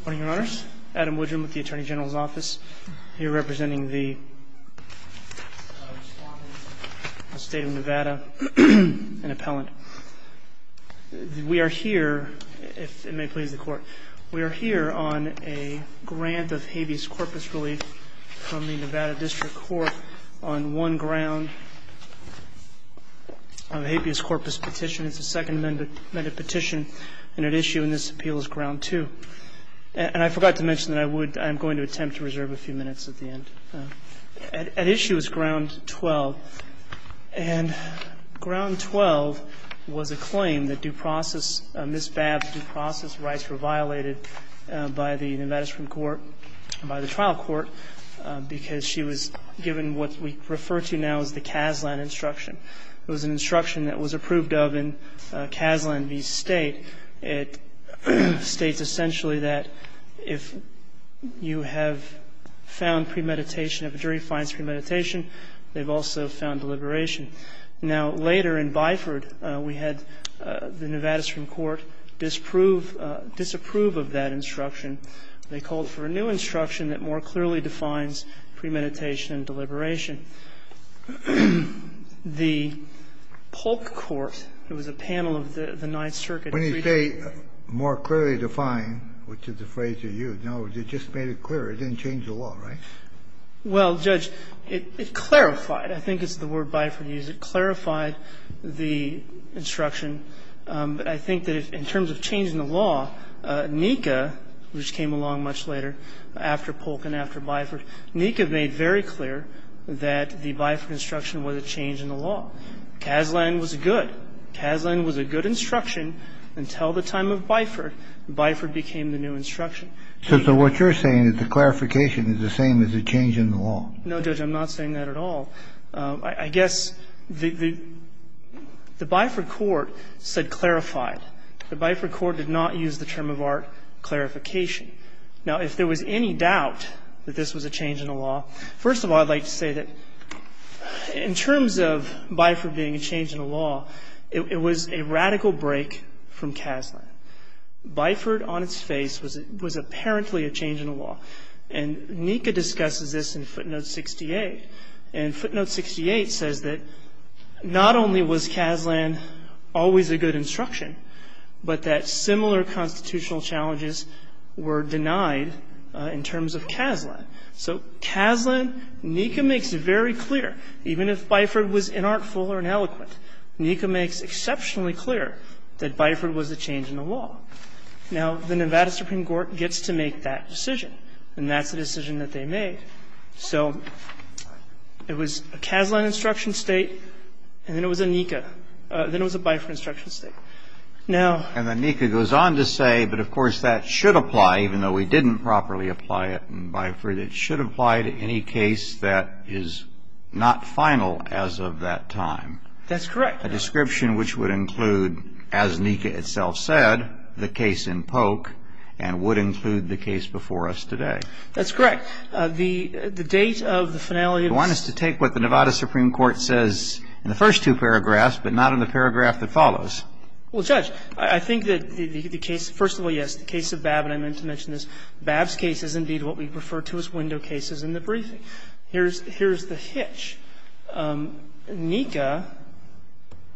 Good morning, Your Honors. Adam Woodrum with the Attorney General's Office, here representing the State of Nevada, an appellant. We are here, if it may please the Court, we are here on a grant of habeas corpus relief from the Nevada District Court on one ground. A habeas corpus petition, it's a second amended petition, and at issue in this appeal is ground two. And I forgot to mention that I would, I'm going to attempt to reserve a few minutes at the end. At issue is ground twelve, and ground twelve was a claim that due process, Ms. Babb's due process rights were violated by the Nevada District Court, by the trial court, because she was given what we refer to now as the Casland Instruction. It was an instruction that was approved of in Casland v. State. It states essentially that if you have found premeditation, if a jury finds premeditation, they've also found deliberation. Now, later in Byford, we had the Nevada District Court disapprove of that instruction. They called for a new instruction that more clearly defines premeditation and deliberation. The Polk Court, it was a panel of the Ninth Circuit. Kennedy When you say more clearly defined, which is the phrase you used, in other words, you just made it clear. It didn't change the law, right? Well, Judge, it clarified. I think it's the word Byford used. It clarified the instruction. But I think that in terms of changing the law, NECA, which came along much later after Polk and after Byford, NECA made very clear that the Byford instruction was a change in the law. Casland was good. Casland was a good instruction until the time of Byford. Byford became the new instruction. So what you're saying is the clarification is the same as the change in the law. No, Judge, I'm not saying that at all. I guess the Byford court said clarified. The Byford court did not use the term of art clarification. Now, if there was any doubt that this was a change in the law, first of all, I'd like to say that in terms of Byford being a change in the law, it was a radical break from Casland. Byford on its face was apparently a change in the law. And NECA discusses this in footnote 68. And footnote 68 says that not only was Casland always a good instruction, but that similar constitutional challenges were denied in terms of Casland. So Casland, NECA makes it very clear, even if Byford was inartful or ineloquent, NECA makes exceptionally clear that Byford was a change in the law. Now, the Nevada Supreme Court gets to make that decision. And that's the decision that they made. So it was a Casland instruction state, and then it was a NECA. Then it was a Byford instruction state. Now ---- And the NECA goes on to say, but, of course, that should apply, even though we didn't properly apply it in Byford. It should apply to any case that is not final as of that time. That's correct. A description which would include, as NECA itself said, the case in Polk, and would include the case before us today. That's correct. The date of the finality of the ---- You want us to take what the Nevada Supreme Court says in the first two paragraphs, but not in the paragraph that follows. Well, Judge, I think that the case ---- first of all, yes, the case of Babb, and I meant to mention this, Babb's case is indeed what we refer to as window cases in the briefing. Here's the hitch. NECA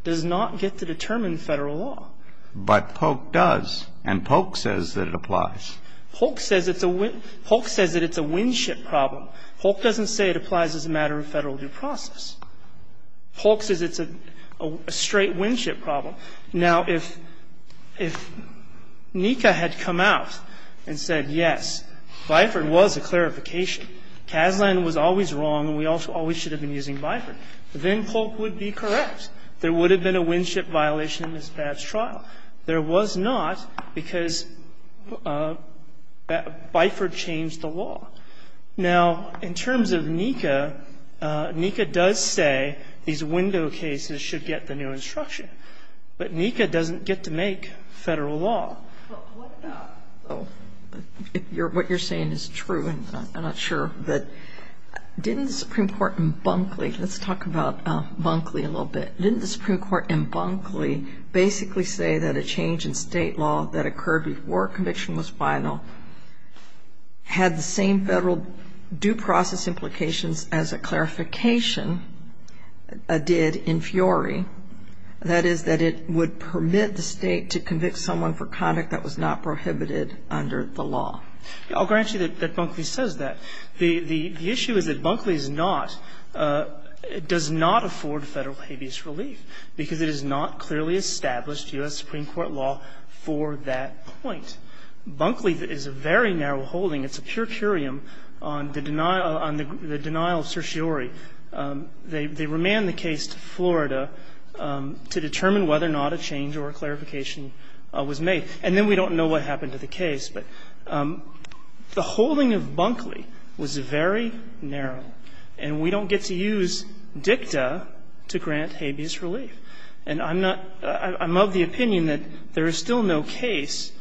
does not get to determine Federal law. But Polk does. And Polk says that it applies. Polk says it's a ---- Polk says that it's a windship problem. Polk doesn't say it applies as a matter of Federal due process. Polk says it's a straight windship problem. Now, if NECA had come out and said, yes, Byford was a clarification. Casland was always wrong and we always should have been using Byford. Then Polk would be correct. There would have been a windship violation in Ms. Babb's trial. There was not because Byford changed the law. Now, in terms of NECA, NECA does say these window cases should get the new instruction. But NECA doesn't get to make Federal law. What you're saying is true, and I'm not sure. But didn't the Supreme Court in Bunkley ---- let's talk about Bunkley a little bit. Didn't the Supreme Court in Bunkley basically say that a change in State law that occurred before conviction was final had the same Federal due process implications as a clarification did in Fiore? That is, that it would permit the State to convict someone for conduct that was not prohibited under the law. I'll grant you that Bunkley says that. The issue is that Bunkley is not ---- does not afford Federal habeas relief because it has not clearly established U.S. Supreme Court law for that point. Bunkley is a very narrow holding. It's a pure curium on the denial of certiorari. They remand the case to Florida to determine whether or not a change or a clarification was made. And then we don't know what happened to the case. But the holding of Bunkley was very narrow, and we don't get to use dicta to grant habeas relief. And I'm not ---- I'm of the opinion that there is still no case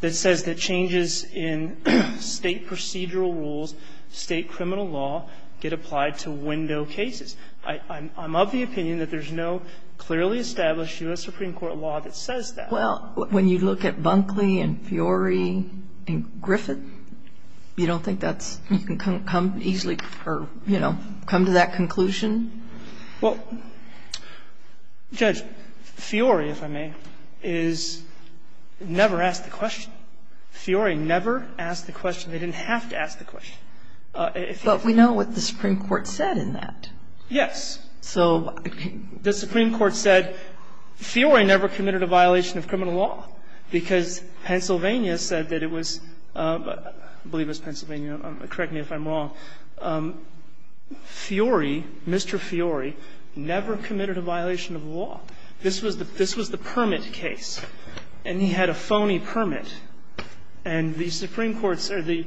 that says that changes in State procedural rules, State criminal law, get applied to window cases. I'm of the opinion that there's no clearly established U.S. Supreme Court law that says that. Well, when you look at Bunkley and Fiore and Griffith, you don't think that's ---- you can come easily or, you know, come to that conclusion? Well, Judge, Fiore, if I may, is never asked the question. Fiore never asked the question. They didn't have to ask the question. But we know what the Supreme Court said in that. Yes. So the Supreme Court said Fiore never committed a violation of criminal law because Pennsylvania said that it was ---- I believe it was Pennsylvania. Correct me if I'm wrong. Fiore, Mr. Fiore, never committed a violation of law. This was the permit case. And he had a phony permit. And the Supreme Court's or the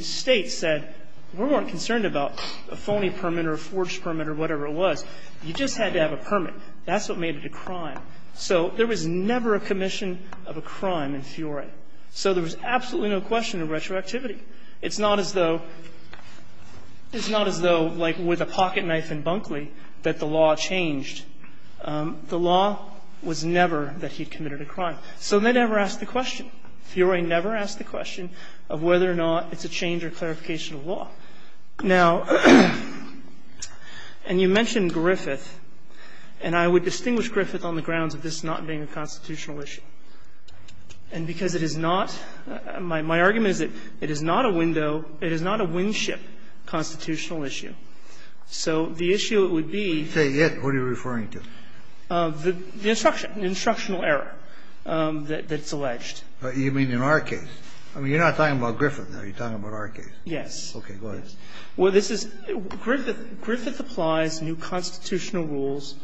State said, we weren't concerned about a phony permit or a forged permit or whatever it was. You just had to have a permit. That's what made it a crime. So there was never a commission of a crime in Fiore. So there was absolutely no question of retroactivity. It's not as though ---- it's not as though like with a pocketknife in Bunkley that the law changed, the law was never that he committed a crime. So they never asked the question. Fiore never asked the question of whether or not it's a change or clarification of law. Now, and you mentioned Griffith, and I would distinguish Griffith on the grounds of this not being a constitutional issue. And because it is not, my argument is that it is not a window, it is not a windship constitutional issue. So the issue would be ---- Kennedy, say it. What are you referring to? The instruction, the instructional error that's alleged. You mean in our case? I mean, you're not talking about Griffith now. You're talking about our case. Yes. Okay. Go ahead. Well, this is Griffith. Griffith applies new constitutional rules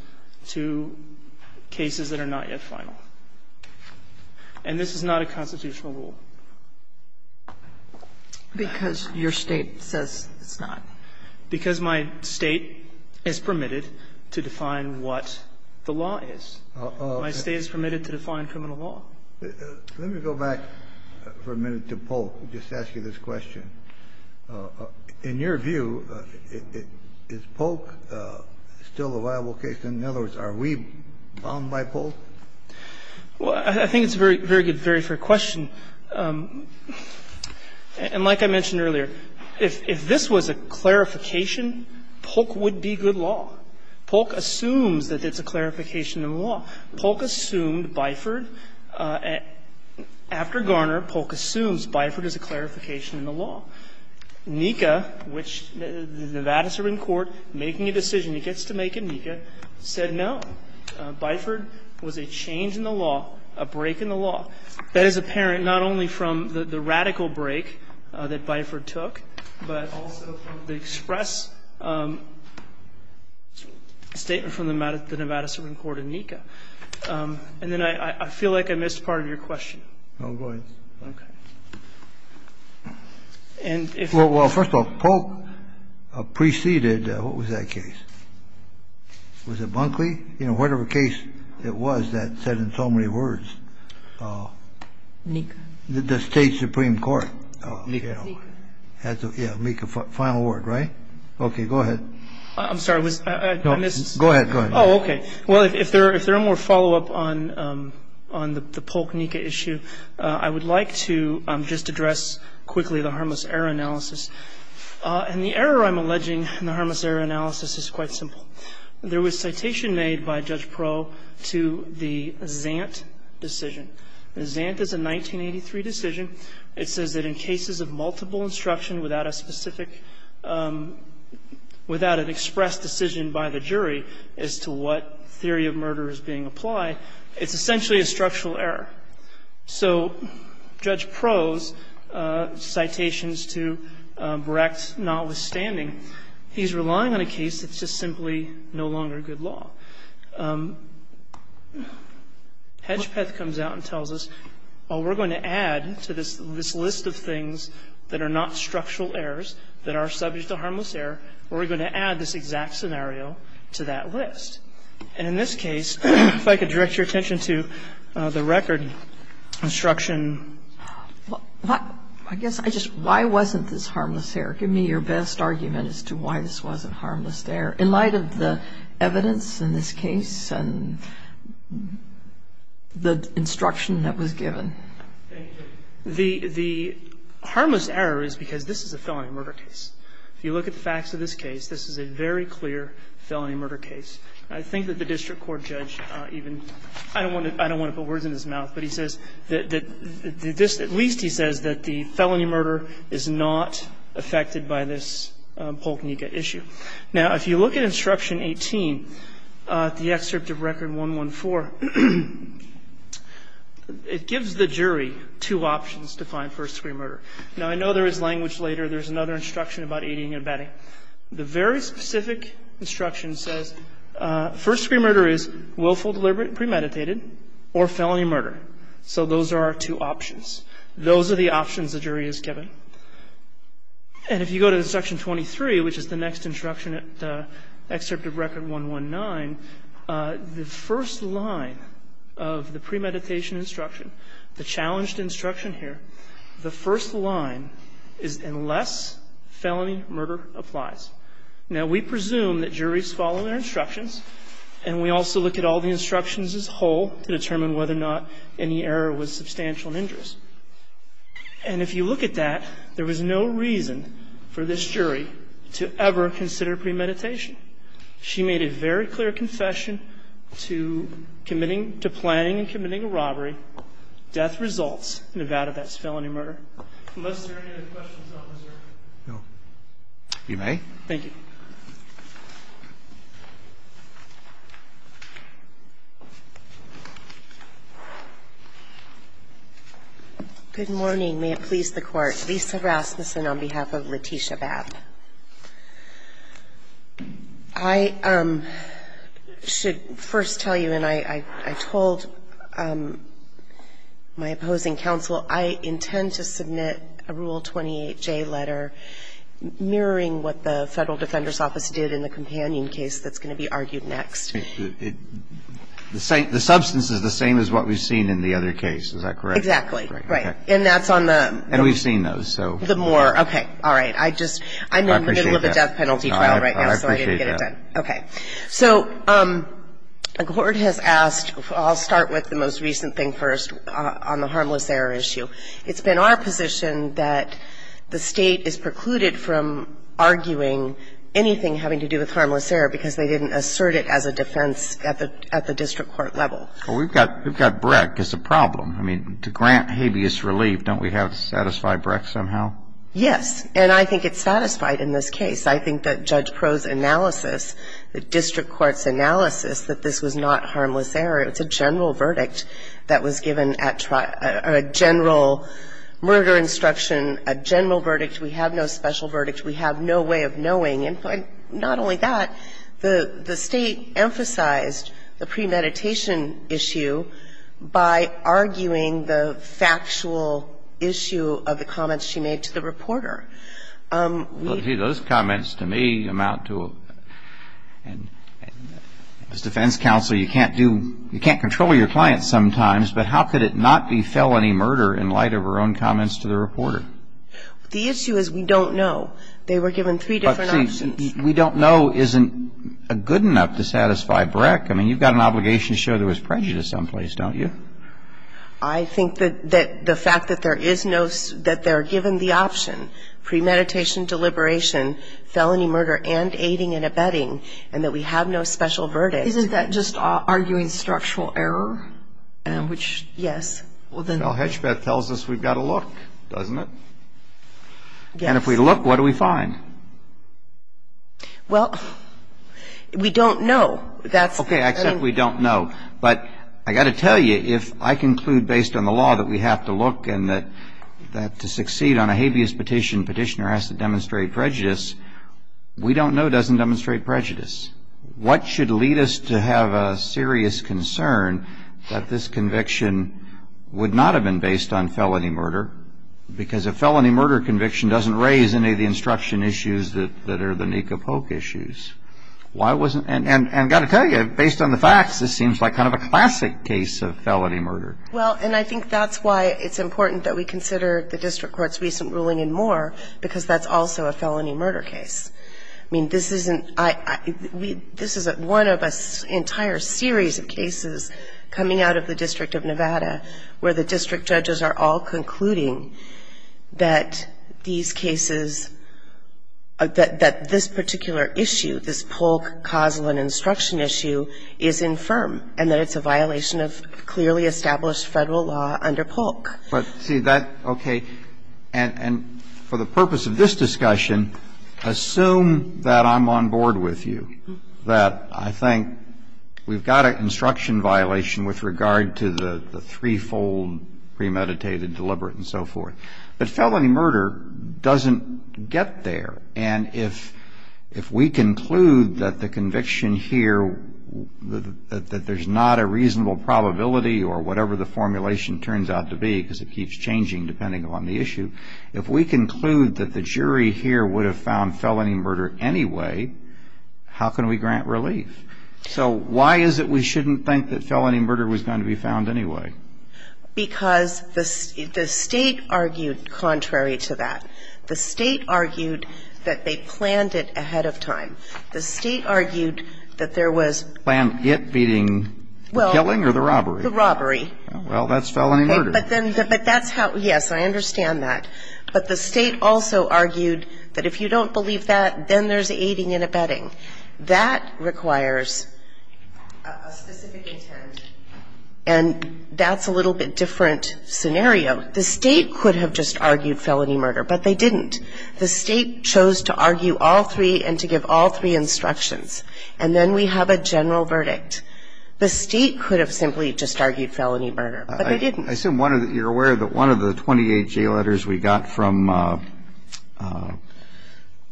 to cases that are not yet final. And this is not a constitutional rule. Because your State says it's not. Because my State is permitted to define what the law is. My State is permitted to define criminal law. Let me go back for a minute to Polk and just ask you this question. In your view, is Polk still a viable case? In other words, are we bound by Polk? Well, I think it's a very good, very fair question. And like I mentioned earlier, if this was a clarification, Polk would be good law. Polk assumes that it's a clarification in the law. Polk assumed Biford. After Garner, Polk assumes Biford is a clarification in the law. Nika, which the Vadis are in court making a decision, he gets to make it, Nika, said no. Biford was a change in the law, a break in the law. That is apparent not only from the radical break that Biford took, but also from the express statement from the Nevada Supreme Court in Nika. And then I feel like I missed part of your question. No, go ahead. Okay. And if you could. Well, first of all, Polk preceded. What was that case? Was it Bunkley? You know, whatever case it was that said in so many words. Nika. The State Supreme Court. Nika. Yeah, Nika, final word, right? Okay. Go ahead. I'm sorry. I missed. Go ahead. Oh, okay. Well, if there are more follow-up on the Polk-Nika issue, I would like to just address quickly the harmless error analysis. And the error I'm alleging in the harmless error analysis is quite simple. There was citation made by Judge Proh to the Zant decision. The Zant is a 1983 decision. It says that in cases of multiple instruction without a specific, without an expressed decision by the jury as to what theory of murder is being applied, it's essentially a structural error. So Judge Proh's citations to Brecht notwithstanding, he's relying on a case that's simply no longer good law. Hedgepeth comes out and tells us, well, we're going to add to this list of things that are not structural errors, that are subject to harmless error, we're going to add this exact scenario to that list. And in this case, if I could direct your attention to the record instruction. I guess I just, why wasn't this harmless error? Give me your best argument as to why this wasn't harmless error. In light of the evidence in this case and the instruction that was given. The harmless error is because this is a felony murder case. If you look at the facts of this case, this is a very clear felony murder case. I think that the district court judge even, I don't want to put words in his mouth, but he says that this, at least he says that the felony murder is not affected by this Polk-Nika issue. Now, if you look at instruction 18, the excerpt of record 114, it gives the jury two options to find first-degree murder. Now, I know there is language later. There's another instruction about aiding and abetting. or felony murder. So those are our two options. Those are the options the jury is given. And if you go to section 23, which is the next instruction at excerpt of record 119, the first line of the premeditation instruction, the challenged instruction here, the first line is unless felony murder applies. Now, we presume that juries follow their instructions, and we also look at all the instructions as whole to determine whether or not any error was substantial and injurious. And if you look at that, there was no reason for this jury to ever consider premeditation. She made a very clear confession to committing to planning and committing a robbery. Death results in a vow to that felony murder. Unless there are any other questions, officer. No. You may. Thank you. Good morning. May it please the Court. Lisa Rasmussen on behalf of Letitia Babb. I should first tell you, and I told my opposing counsel, I intend to submit a Rule 114 to the Court of Appeals. But I would like to make a point that I think the Federal Defender's Office did in the Companion case that's going to be argued next. The substance is the same as what we've seen in the other case. Is that correct? Exactly. Right. And that's on the ‑‑ And we've seen those, so ‑‑ The Moore. Okay. All right. I just, I'm in the middle of a death penalty trial right now, so I didn't get it done. Okay. So a court has asked, I'll start with the most recent thing first on the harmless error issue. It's been our position that the State is precluded from arguing anything having to do with harmless error because they didn't assert it as a defense at the district court level. Well, we've got Breck as a problem. I mean, to grant habeas relief, don't we have to satisfy Breck somehow? Yes. And I think it's satisfied in this case. I think that Judge Proulx's analysis, the district court's analysis that this was not harmless error. It's a general verdict that was given at trial, a general murder instruction, a general verdict. We have no special verdict. We have no way of knowing. And not only that, the State emphasized the premeditation issue by arguing the factual issue of the comments she made to the reporter. Those comments to me amount to a defense counsel, you can't do, you can't control your clients sometimes, but how could it not be felony murder in light of her own comments to the reporter? The issue is we don't know. They were given three different options. We don't know isn't good enough to satisfy Breck. I mean, you've got an obligation to show there was prejudice someplace, don't you? I think that the fact that there is no, that they're given the option, premeditation, deliberation, felony murder, and aiding and abetting, and that we have no special verdict. Isn't that just arguing structural error? Yes. Well, then. Well, Hedgbeth tells us we've got to look, doesn't it? Yes. And if we look, what do we find? Well, we don't know. Okay, I accept we don't know. But I've got to tell you, if I conclude based on the law that we have to look and that to succeed on a habeas petition, petitioner has to demonstrate prejudice, we don't know doesn't demonstrate prejudice. What should lead us to have a serious concern that this conviction would not have been based on felony murder? Because a felony murder conviction doesn't raise any of the instruction issues that are the Nika Polk issues. And I've got to tell you, based on the facts, this seems like kind of a classic case of felony murder. Well, and I think that's why it's important that we consider the district court's recent ruling in Moore because that's also a felony murder case. I mean, this isn't, this is one of an entire series of cases coming out of the District of Nevada where the district judges are all concluding that these cases, that this particular issue, this Polk causal and instruction issue, is infirm and that it's a violation of clearly established Federal law under Polk. But, see, that, okay, and for the purpose of this discussion, assume that I'm on board with you, that I think we've got an instruction violation with regard to the threefold premeditated, deliberate, and so forth. But felony murder doesn't get there. And if we conclude that the conviction here, that there's not a reasonable probability or whatever the formulation turns out to be, because it keeps changing depending on the issue, if we conclude that the jury here would have found felony murder anyway, how can we grant relief? So why is it we shouldn't think that felony murder was going to be found anyway? Because the State argued contrary to that. The State argued that they planned it ahead of time. The State argued that there was planned. It being the killing or the robbery? The robbery. Well, that's felony murder. But then, but that's how, yes, I understand that. But the State also argued that if you don't believe that, then there's aiding and abetting. That requires a specific intent. And that's a little bit different scenario. The State could have just argued felony murder. But they didn't. The State chose to argue all three and to give all three instructions. And then we have a general verdict. The State could have simply just argued felony murder. But they didn't. I assume you're aware that one of the 28 J letters we got from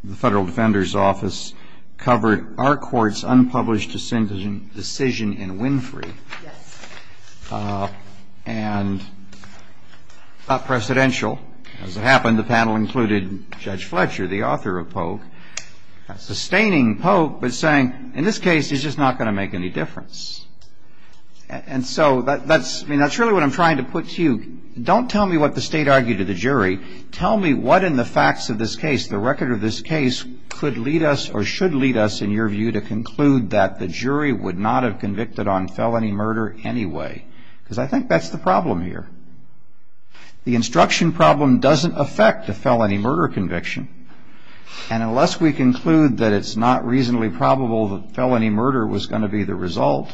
the Federal Defender's Office covered our court's unpublished decision in Winfrey. Yes. And not precedential. As it happened, the panel included Judge Fletcher, the author of Polk, sustaining Polk but saying, in this case, it's just not going to make any difference. And so that's really what I'm trying to put to you. Don't tell me what the State argued to the jury. Tell me what in the facts of this case, the record of this case, could lead us or should lead us, in your view, to conclude that the jury would not have convicted on felony murder anyway. Because I think that's the problem here. The instruction problem doesn't affect a felony murder conviction. And unless we conclude that it's not reasonably probable that felony murder was going to be the result,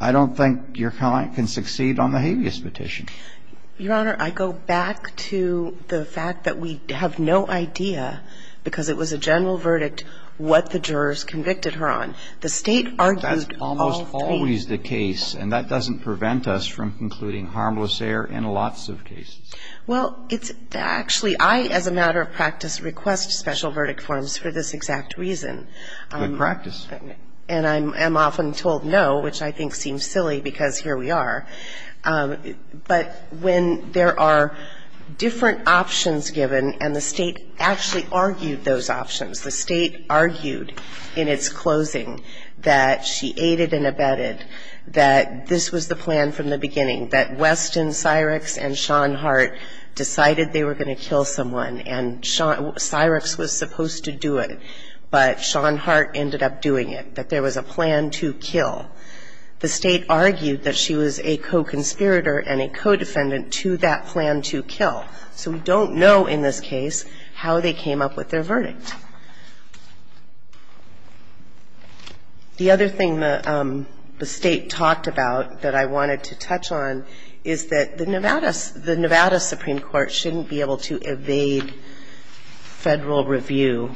I don't think your client can succeed on the habeas petition. Your Honor, I go back to the fact that we have no idea, because it was a general verdict, what the jurors convicted her on. The State argued all three. That's almost always the case. And that doesn't prevent us from concluding harmless error in lots of cases. Well, it's actually, I, as a matter of practice, request special verdict forms for this exact reason. Good practice. And I'm often told no, which I think seems silly, because here we are. But when there are different options given, and the State actually argued those options, the State argued in its closing that she aided and abetted, that this was the plan from the beginning, that Weston Syrix and Sean Hart decided they were going to kill someone. And Syrix was supposed to do it, but Sean Hart ended up doing it, that there was a plan to kill. The State argued that she was a co-conspirator and a co-defendant to that plan to kill. So we don't know in this case how they came up with their verdict. The other thing the State talked about that I wanted to touch on is that the Nevada Supreme Court shouldn't be able to evade Federal review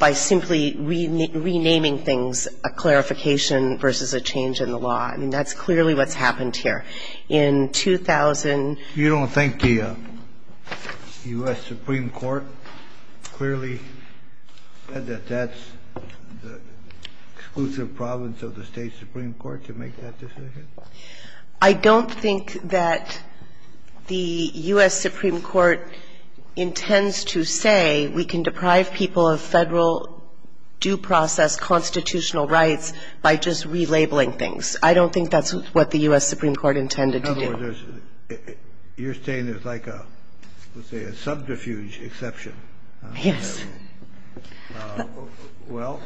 by simply renaming things a clarification versus a change in the law. I mean, that's clearly what's happened here. In 2000 ---- You don't think the U.S. Supreme Court clearly said that that's the exclusive province of the State Supreme Court to make that decision? I don't think that the U.S. Supreme Court intends to say we can deprive people of Federal due process constitutional rights by just relabeling things. I don't think that's what the U.S. Supreme Court intended to do. In other words, you're saying there's like a, let's say, a subterfuge exception. Yes. Well,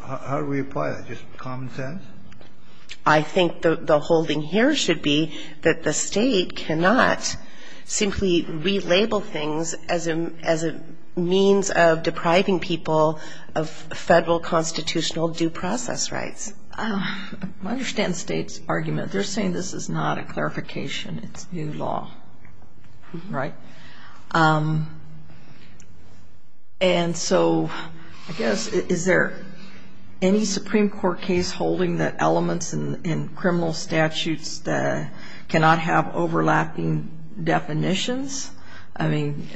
how do we apply that? Just common sense? I think the holding here should be that the State cannot simply relabel things as a means of depriving people of Federal constitutional due process rights. I understand the State's argument. They're saying this is not a clarification. It's new law, right? And so, I guess, is there any Supreme Court case holding that elements in criminal statutes cannot have overlapping definitions? I mean,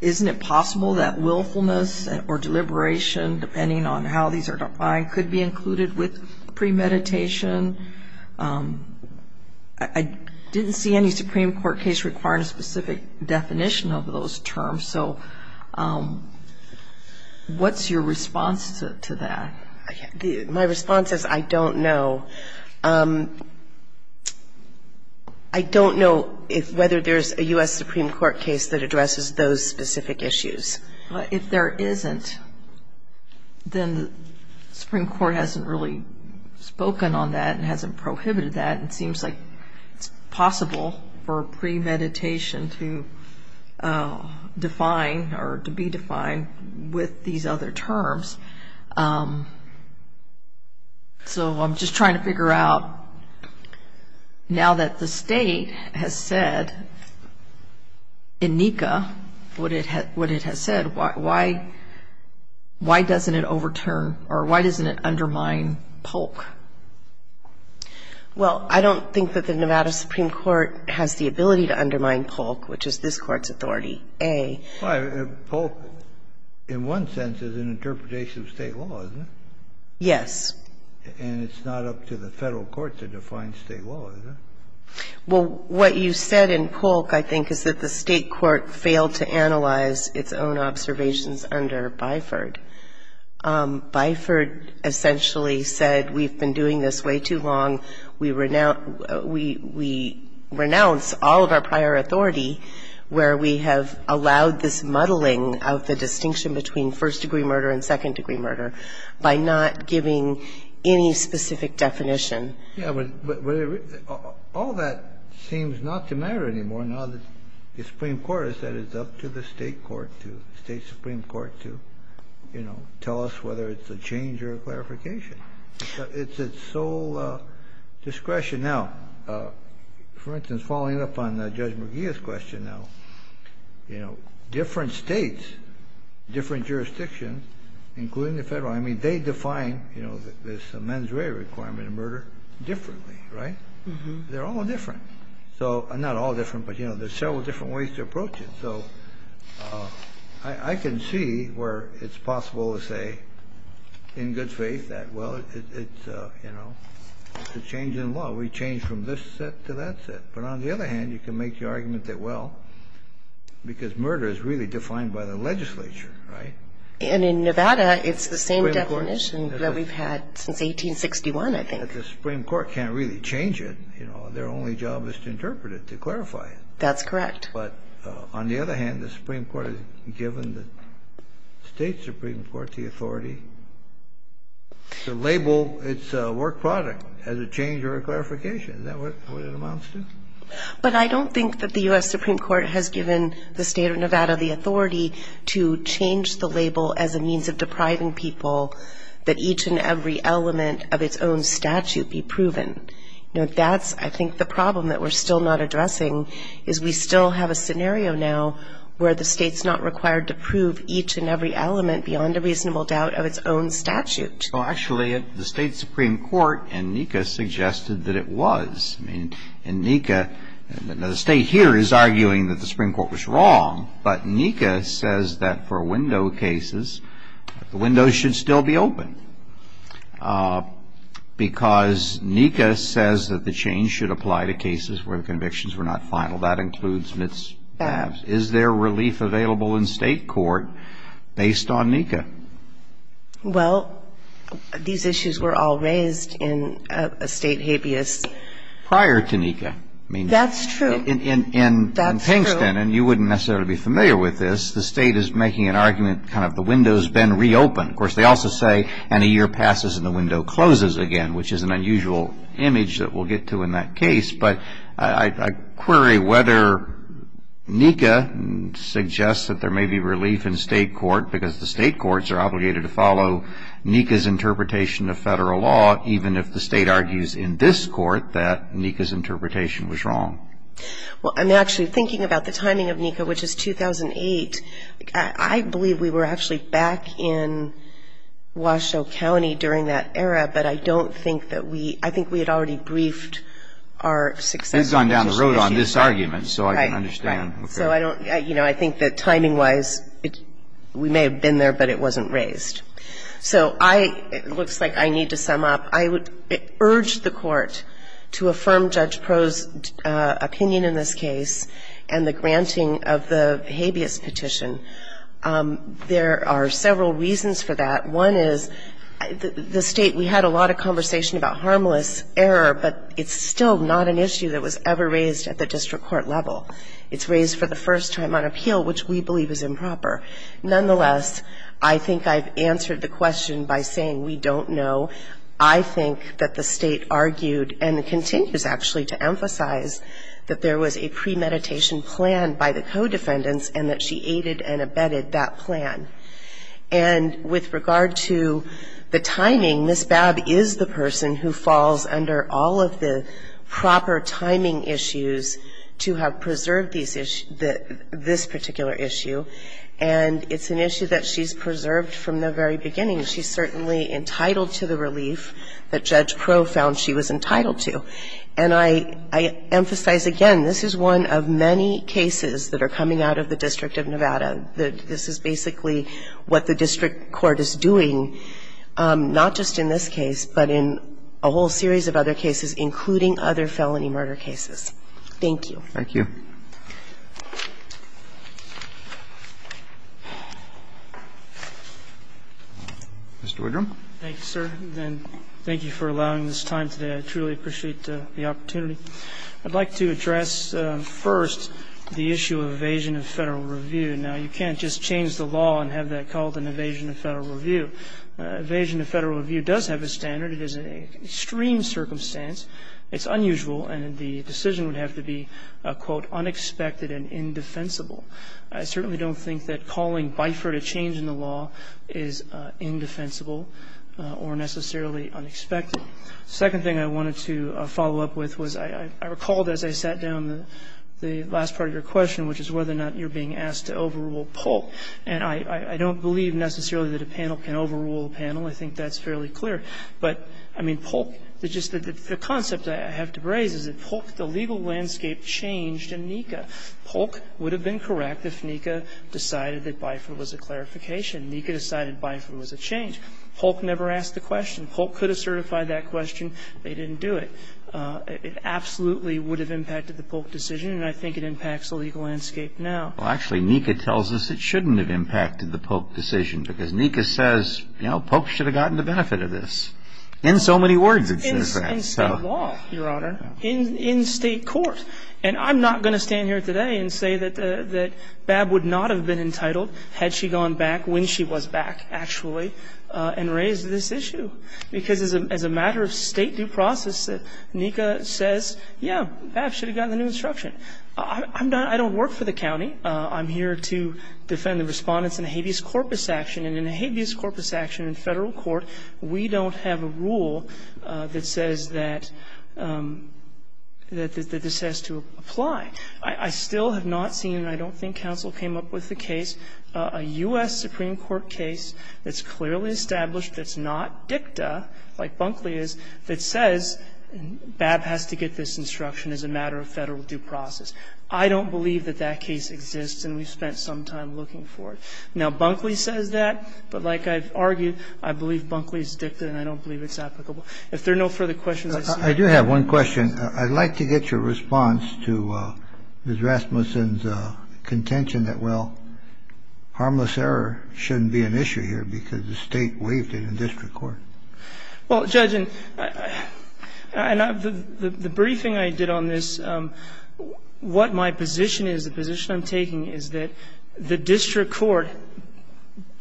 isn't it possible that willfulness or deliberation, depending on how these are defined, could be included with premeditation? I didn't see any Supreme Court case requiring a specific definition of those terms. So what's your response to that? My response is I don't know. I don't know whether there's a U.S. Supreme Court case that addresses those specific issues. If there isn't, then the Supreme Court hasn't really spoken on that and hasn't prohibited that. It seems like it's possible for premeditation to define or to be defined with these other terms. So I'm just trying to figure out, now that the State has said in NECA what it has said, why doesn't it overturn or why doesn't it undermine Polk? Well, I don't think that the Nevada Supreme Court has the ability to undermine Polk, which is this Court's authority, A. Polk, in one sense, is an interpretation of State law, isn't it? Yes. And it's not up to the Federal courts to define State law, is it? Well, what you said in Polk, I think, is that the State court failed to analyze its own observations under Byford. Byford essentially said we've been doing this way too long. We renounce all of our prior authority where we have allowed this muddling of the distinction between first-degree murder and second-degree murder by not giving any specific definition. Yes, but all that seems not to matter anymore now that the Supreme Court has said it's up to the State court to, State supreme court to, you know, tell us whether it's a change or a clarification. It's at sole discretion. Now, for instance, following up on Judge McGeeh's question now, you know, different States, different jurisdictions, including the Federal. I mean, they define, you know, this mens rea requirement of murder differently, right? They're all different. So, not all different, but, you know, there's several different ways to approach So, I can see where it's possible to say in good faith that, well, it's, you know, it's a change in law. We change from this set to that set. But on the other hand, you can make the argument that, well, because murder is really defined by the legislature, right? And in Nevada, it's the same definition that we've had since 1861, I think. The Supreme Court can't really change it. You know, their only job is to interpret it, to clarify it. That's correct. But on the other hand, the Supreme Court has given the State Supreme Court the authority to label its work product as a change or a clarification. Is that what it amounts to? But I don't think that the U.S. Supreme Court has given the State of Nevada the authority to change the label as a means of depriving people that each and every element of its own statute be proven. You know, that's, I think, the problem that we're still not addressing is we still have a scenario now where the State's not required to prove each and every element beyond a reasonable doubt of its own statute. Well, actually, the State Supreme Court in NECA suggested that it was. I mean, in NECA, the State here is arguing that the Supreme Court was wrong, but NECA says that for window cases, the windows should still be open because NECA says that the change should apply to cases where the convictions were not final. That includes Mitzvahs. Is there relief available in State court based on NECA? Well, these issues were all raised in a State habeas. Prior to NECA. That's true. In Pingston, and you wouldn't necessarily be familiar with this, the State is making an argument, kind of, the window's been reopened. Of course, they also say, and a year passes and the window closes again, which is an unusual image that we'll get to in that case. But I query whether NECA suggests that there may be relief in State court because the State courts are obligated to follow NECA's interpretation of Federal law, even if the State argues in this court that NECA's interpretation was wrong. Well, I'm actually thinking about the timing of NECA, which is 2008. I believe we were actually back in Washoe County during that era, but I don't think that we – I think we had already briefed our success petition issue. You've gone down the road on this argument, so I can understand. Right. So I don't – you know, I think that timing-wise, we may have been there, but it wasn't raised. So I – it looks like I need to sum up. I would urge the Court to affirm Judge Proulx's opinion in this case and the granting of the habeas petition. There are several reasons for that. One is the State – we had a lot of conversation about harmless error, but it's still not an issue that was ever raised at the district court level. It's raised for the first time on appeal, which we believe is improper. Nonetheless, I think I've answered the question by saying we don't know. I think that the State argued and continues, actually, to emphasize that there was a premeditation plan by the co-defendants and that she aided and abetted that plan. And with regard to the timing, Ms. Babb is the person who falls under all of the proper timing issues to have preserved these – this particular issue. And it's an issue that she's preserved from the very beginning. She's certainly entitled to the relief that Judge Proulx found she was entitled to. And I emphasize again, this is one of many cases that are coming out of the District of Nevada. This is basically what the district court is doing, not just in this case, but in a whole series of other cases, including other felony murder cases. Thank you. Thank you. Mr. Woodrum. Thank you, sir. And thank you for allowing this time today. I truly appreciate the opportunity. I'd like to address first the issue of evasion of Federal review. Now, you can't just change the law and have that called an evasion of Federal review. Evasion of Federal review does have a standard. It is an extreme circumstance. It's unusual, and the decision would have to be, quote, unexpected and indefensible. I certainly don't think that calling bifur to change in the law is indefensible or necessarily unexpected. Second thing I wanted to follow up with was I recalled as I sat down the last part of your question, which is whether or not you're being asked to overrule Polk. And I don't believe necessarily that a panel can overrule a panel. I think that's fairly clear. But, I mean, Polk, just the concept I have to raise is that Polk, the legal landscape, changed in NECA. Polk would have been correct if NECA decided that bifur was a clarification. NECA decided bifur was a change. Polk never asked the question. Polk could have certified that question. They didn't do it. It absolutely would have impacted the Polk decision. And I think it impacts the legal landscape now. Well, actually, NECA tells us it shouldn't have impacted the Polk decision because NECA says, you know, Polk should have gotten the benefit of this. In so many words it says that. In state law, Your Honor. In state court. And I'm not going to stand here today and say that Babb would not have been entitled had she gone back when she was back, actually, and raised this issue. Because as a matter of state due process, NECA says, yeah, Babb should have gotten the new instruction. I don't work for the county. I'm here to defend the Respondents in a habeas corpus action. And in a habeas corpus action in Federal court, we don't have a rule that says that this has to apply. I still have not seen, and I don't think counsel came up with the case, a U.S. Supreme Court case that's clearly established that's not dicta, like Bunkley is, that says Babb has to get this instruction as a matter of Federal due process. I don't believe that that case exists, and we've spent some time looking for it. Now, Bunkley says that, but like I've argued, I believe Bunkley's dicta, and I don't believe it's applicable. If there are no further questions, I see no further questions. I do have one question. I'd like to get your response to Ms. Rasmussen's contention that, well, harmless error shouldn't be an issue here because the State waived it in district court. Well, Judge, and the briefing I did on this, what my position is, the position I'm taking is that the district court,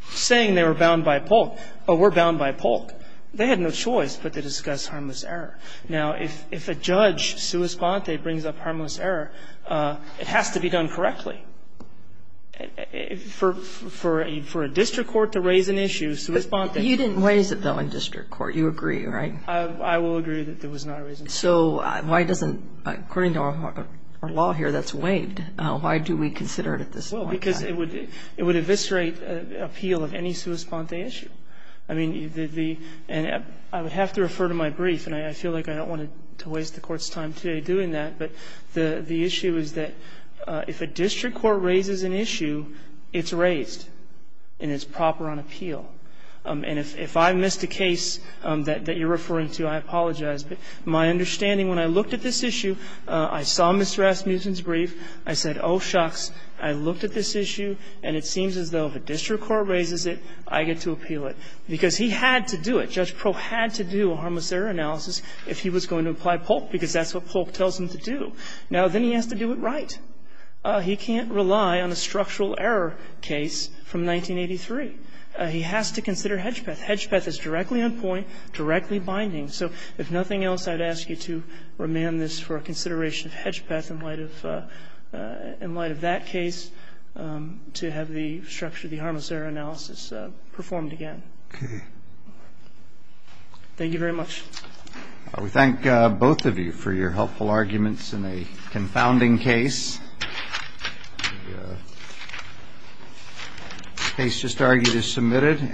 saying they were bound by Polk, or were bound by Polk, they had no choice but to discuss harmless error. Now, if a judge sua sponte brings up harmless error, it has to be done correctly. For a district court to raise an issue, sua sponte. You didn't raise it, though, in district court. You agree, right? I will agree that it was not raised in district court. So why doesn't, according to our law here, that's waived. Why do we consider it at this point? Well, because it would eviscerate appeal of any sua sponte issue. I mean, the – and I would have to refer to my brief, and I feel like I don't want to waste the Court's time today doing that, but the issue is that if a district court raises an issue, it's raised, and it's proper on appeal. And if I missed a case that you're referring to, I apologize. But my understanding, when I looked at this issue, I saw Ms. Rasmussen's brief, I said, oh, shucks, I looked at this issue, and it seems as though if a district court raises it, I get to appeal it. Because he had to do it. Judge Proh had to do a harmless error analysis if he was going to apply Polk, because that's what Polk tells him to do. Now, then he has to do it right. He can't rely on a structural error case from 1983. He has to consider Hedgepeth. Hedgepeth is directly on point, directly binding. And so I think it's important for us, in light of that case, to have the structure of the harmless error analysis performed again. Thank you very much. We thank both of you for your helpful arguments in a confounding case. The case just argued is submitted.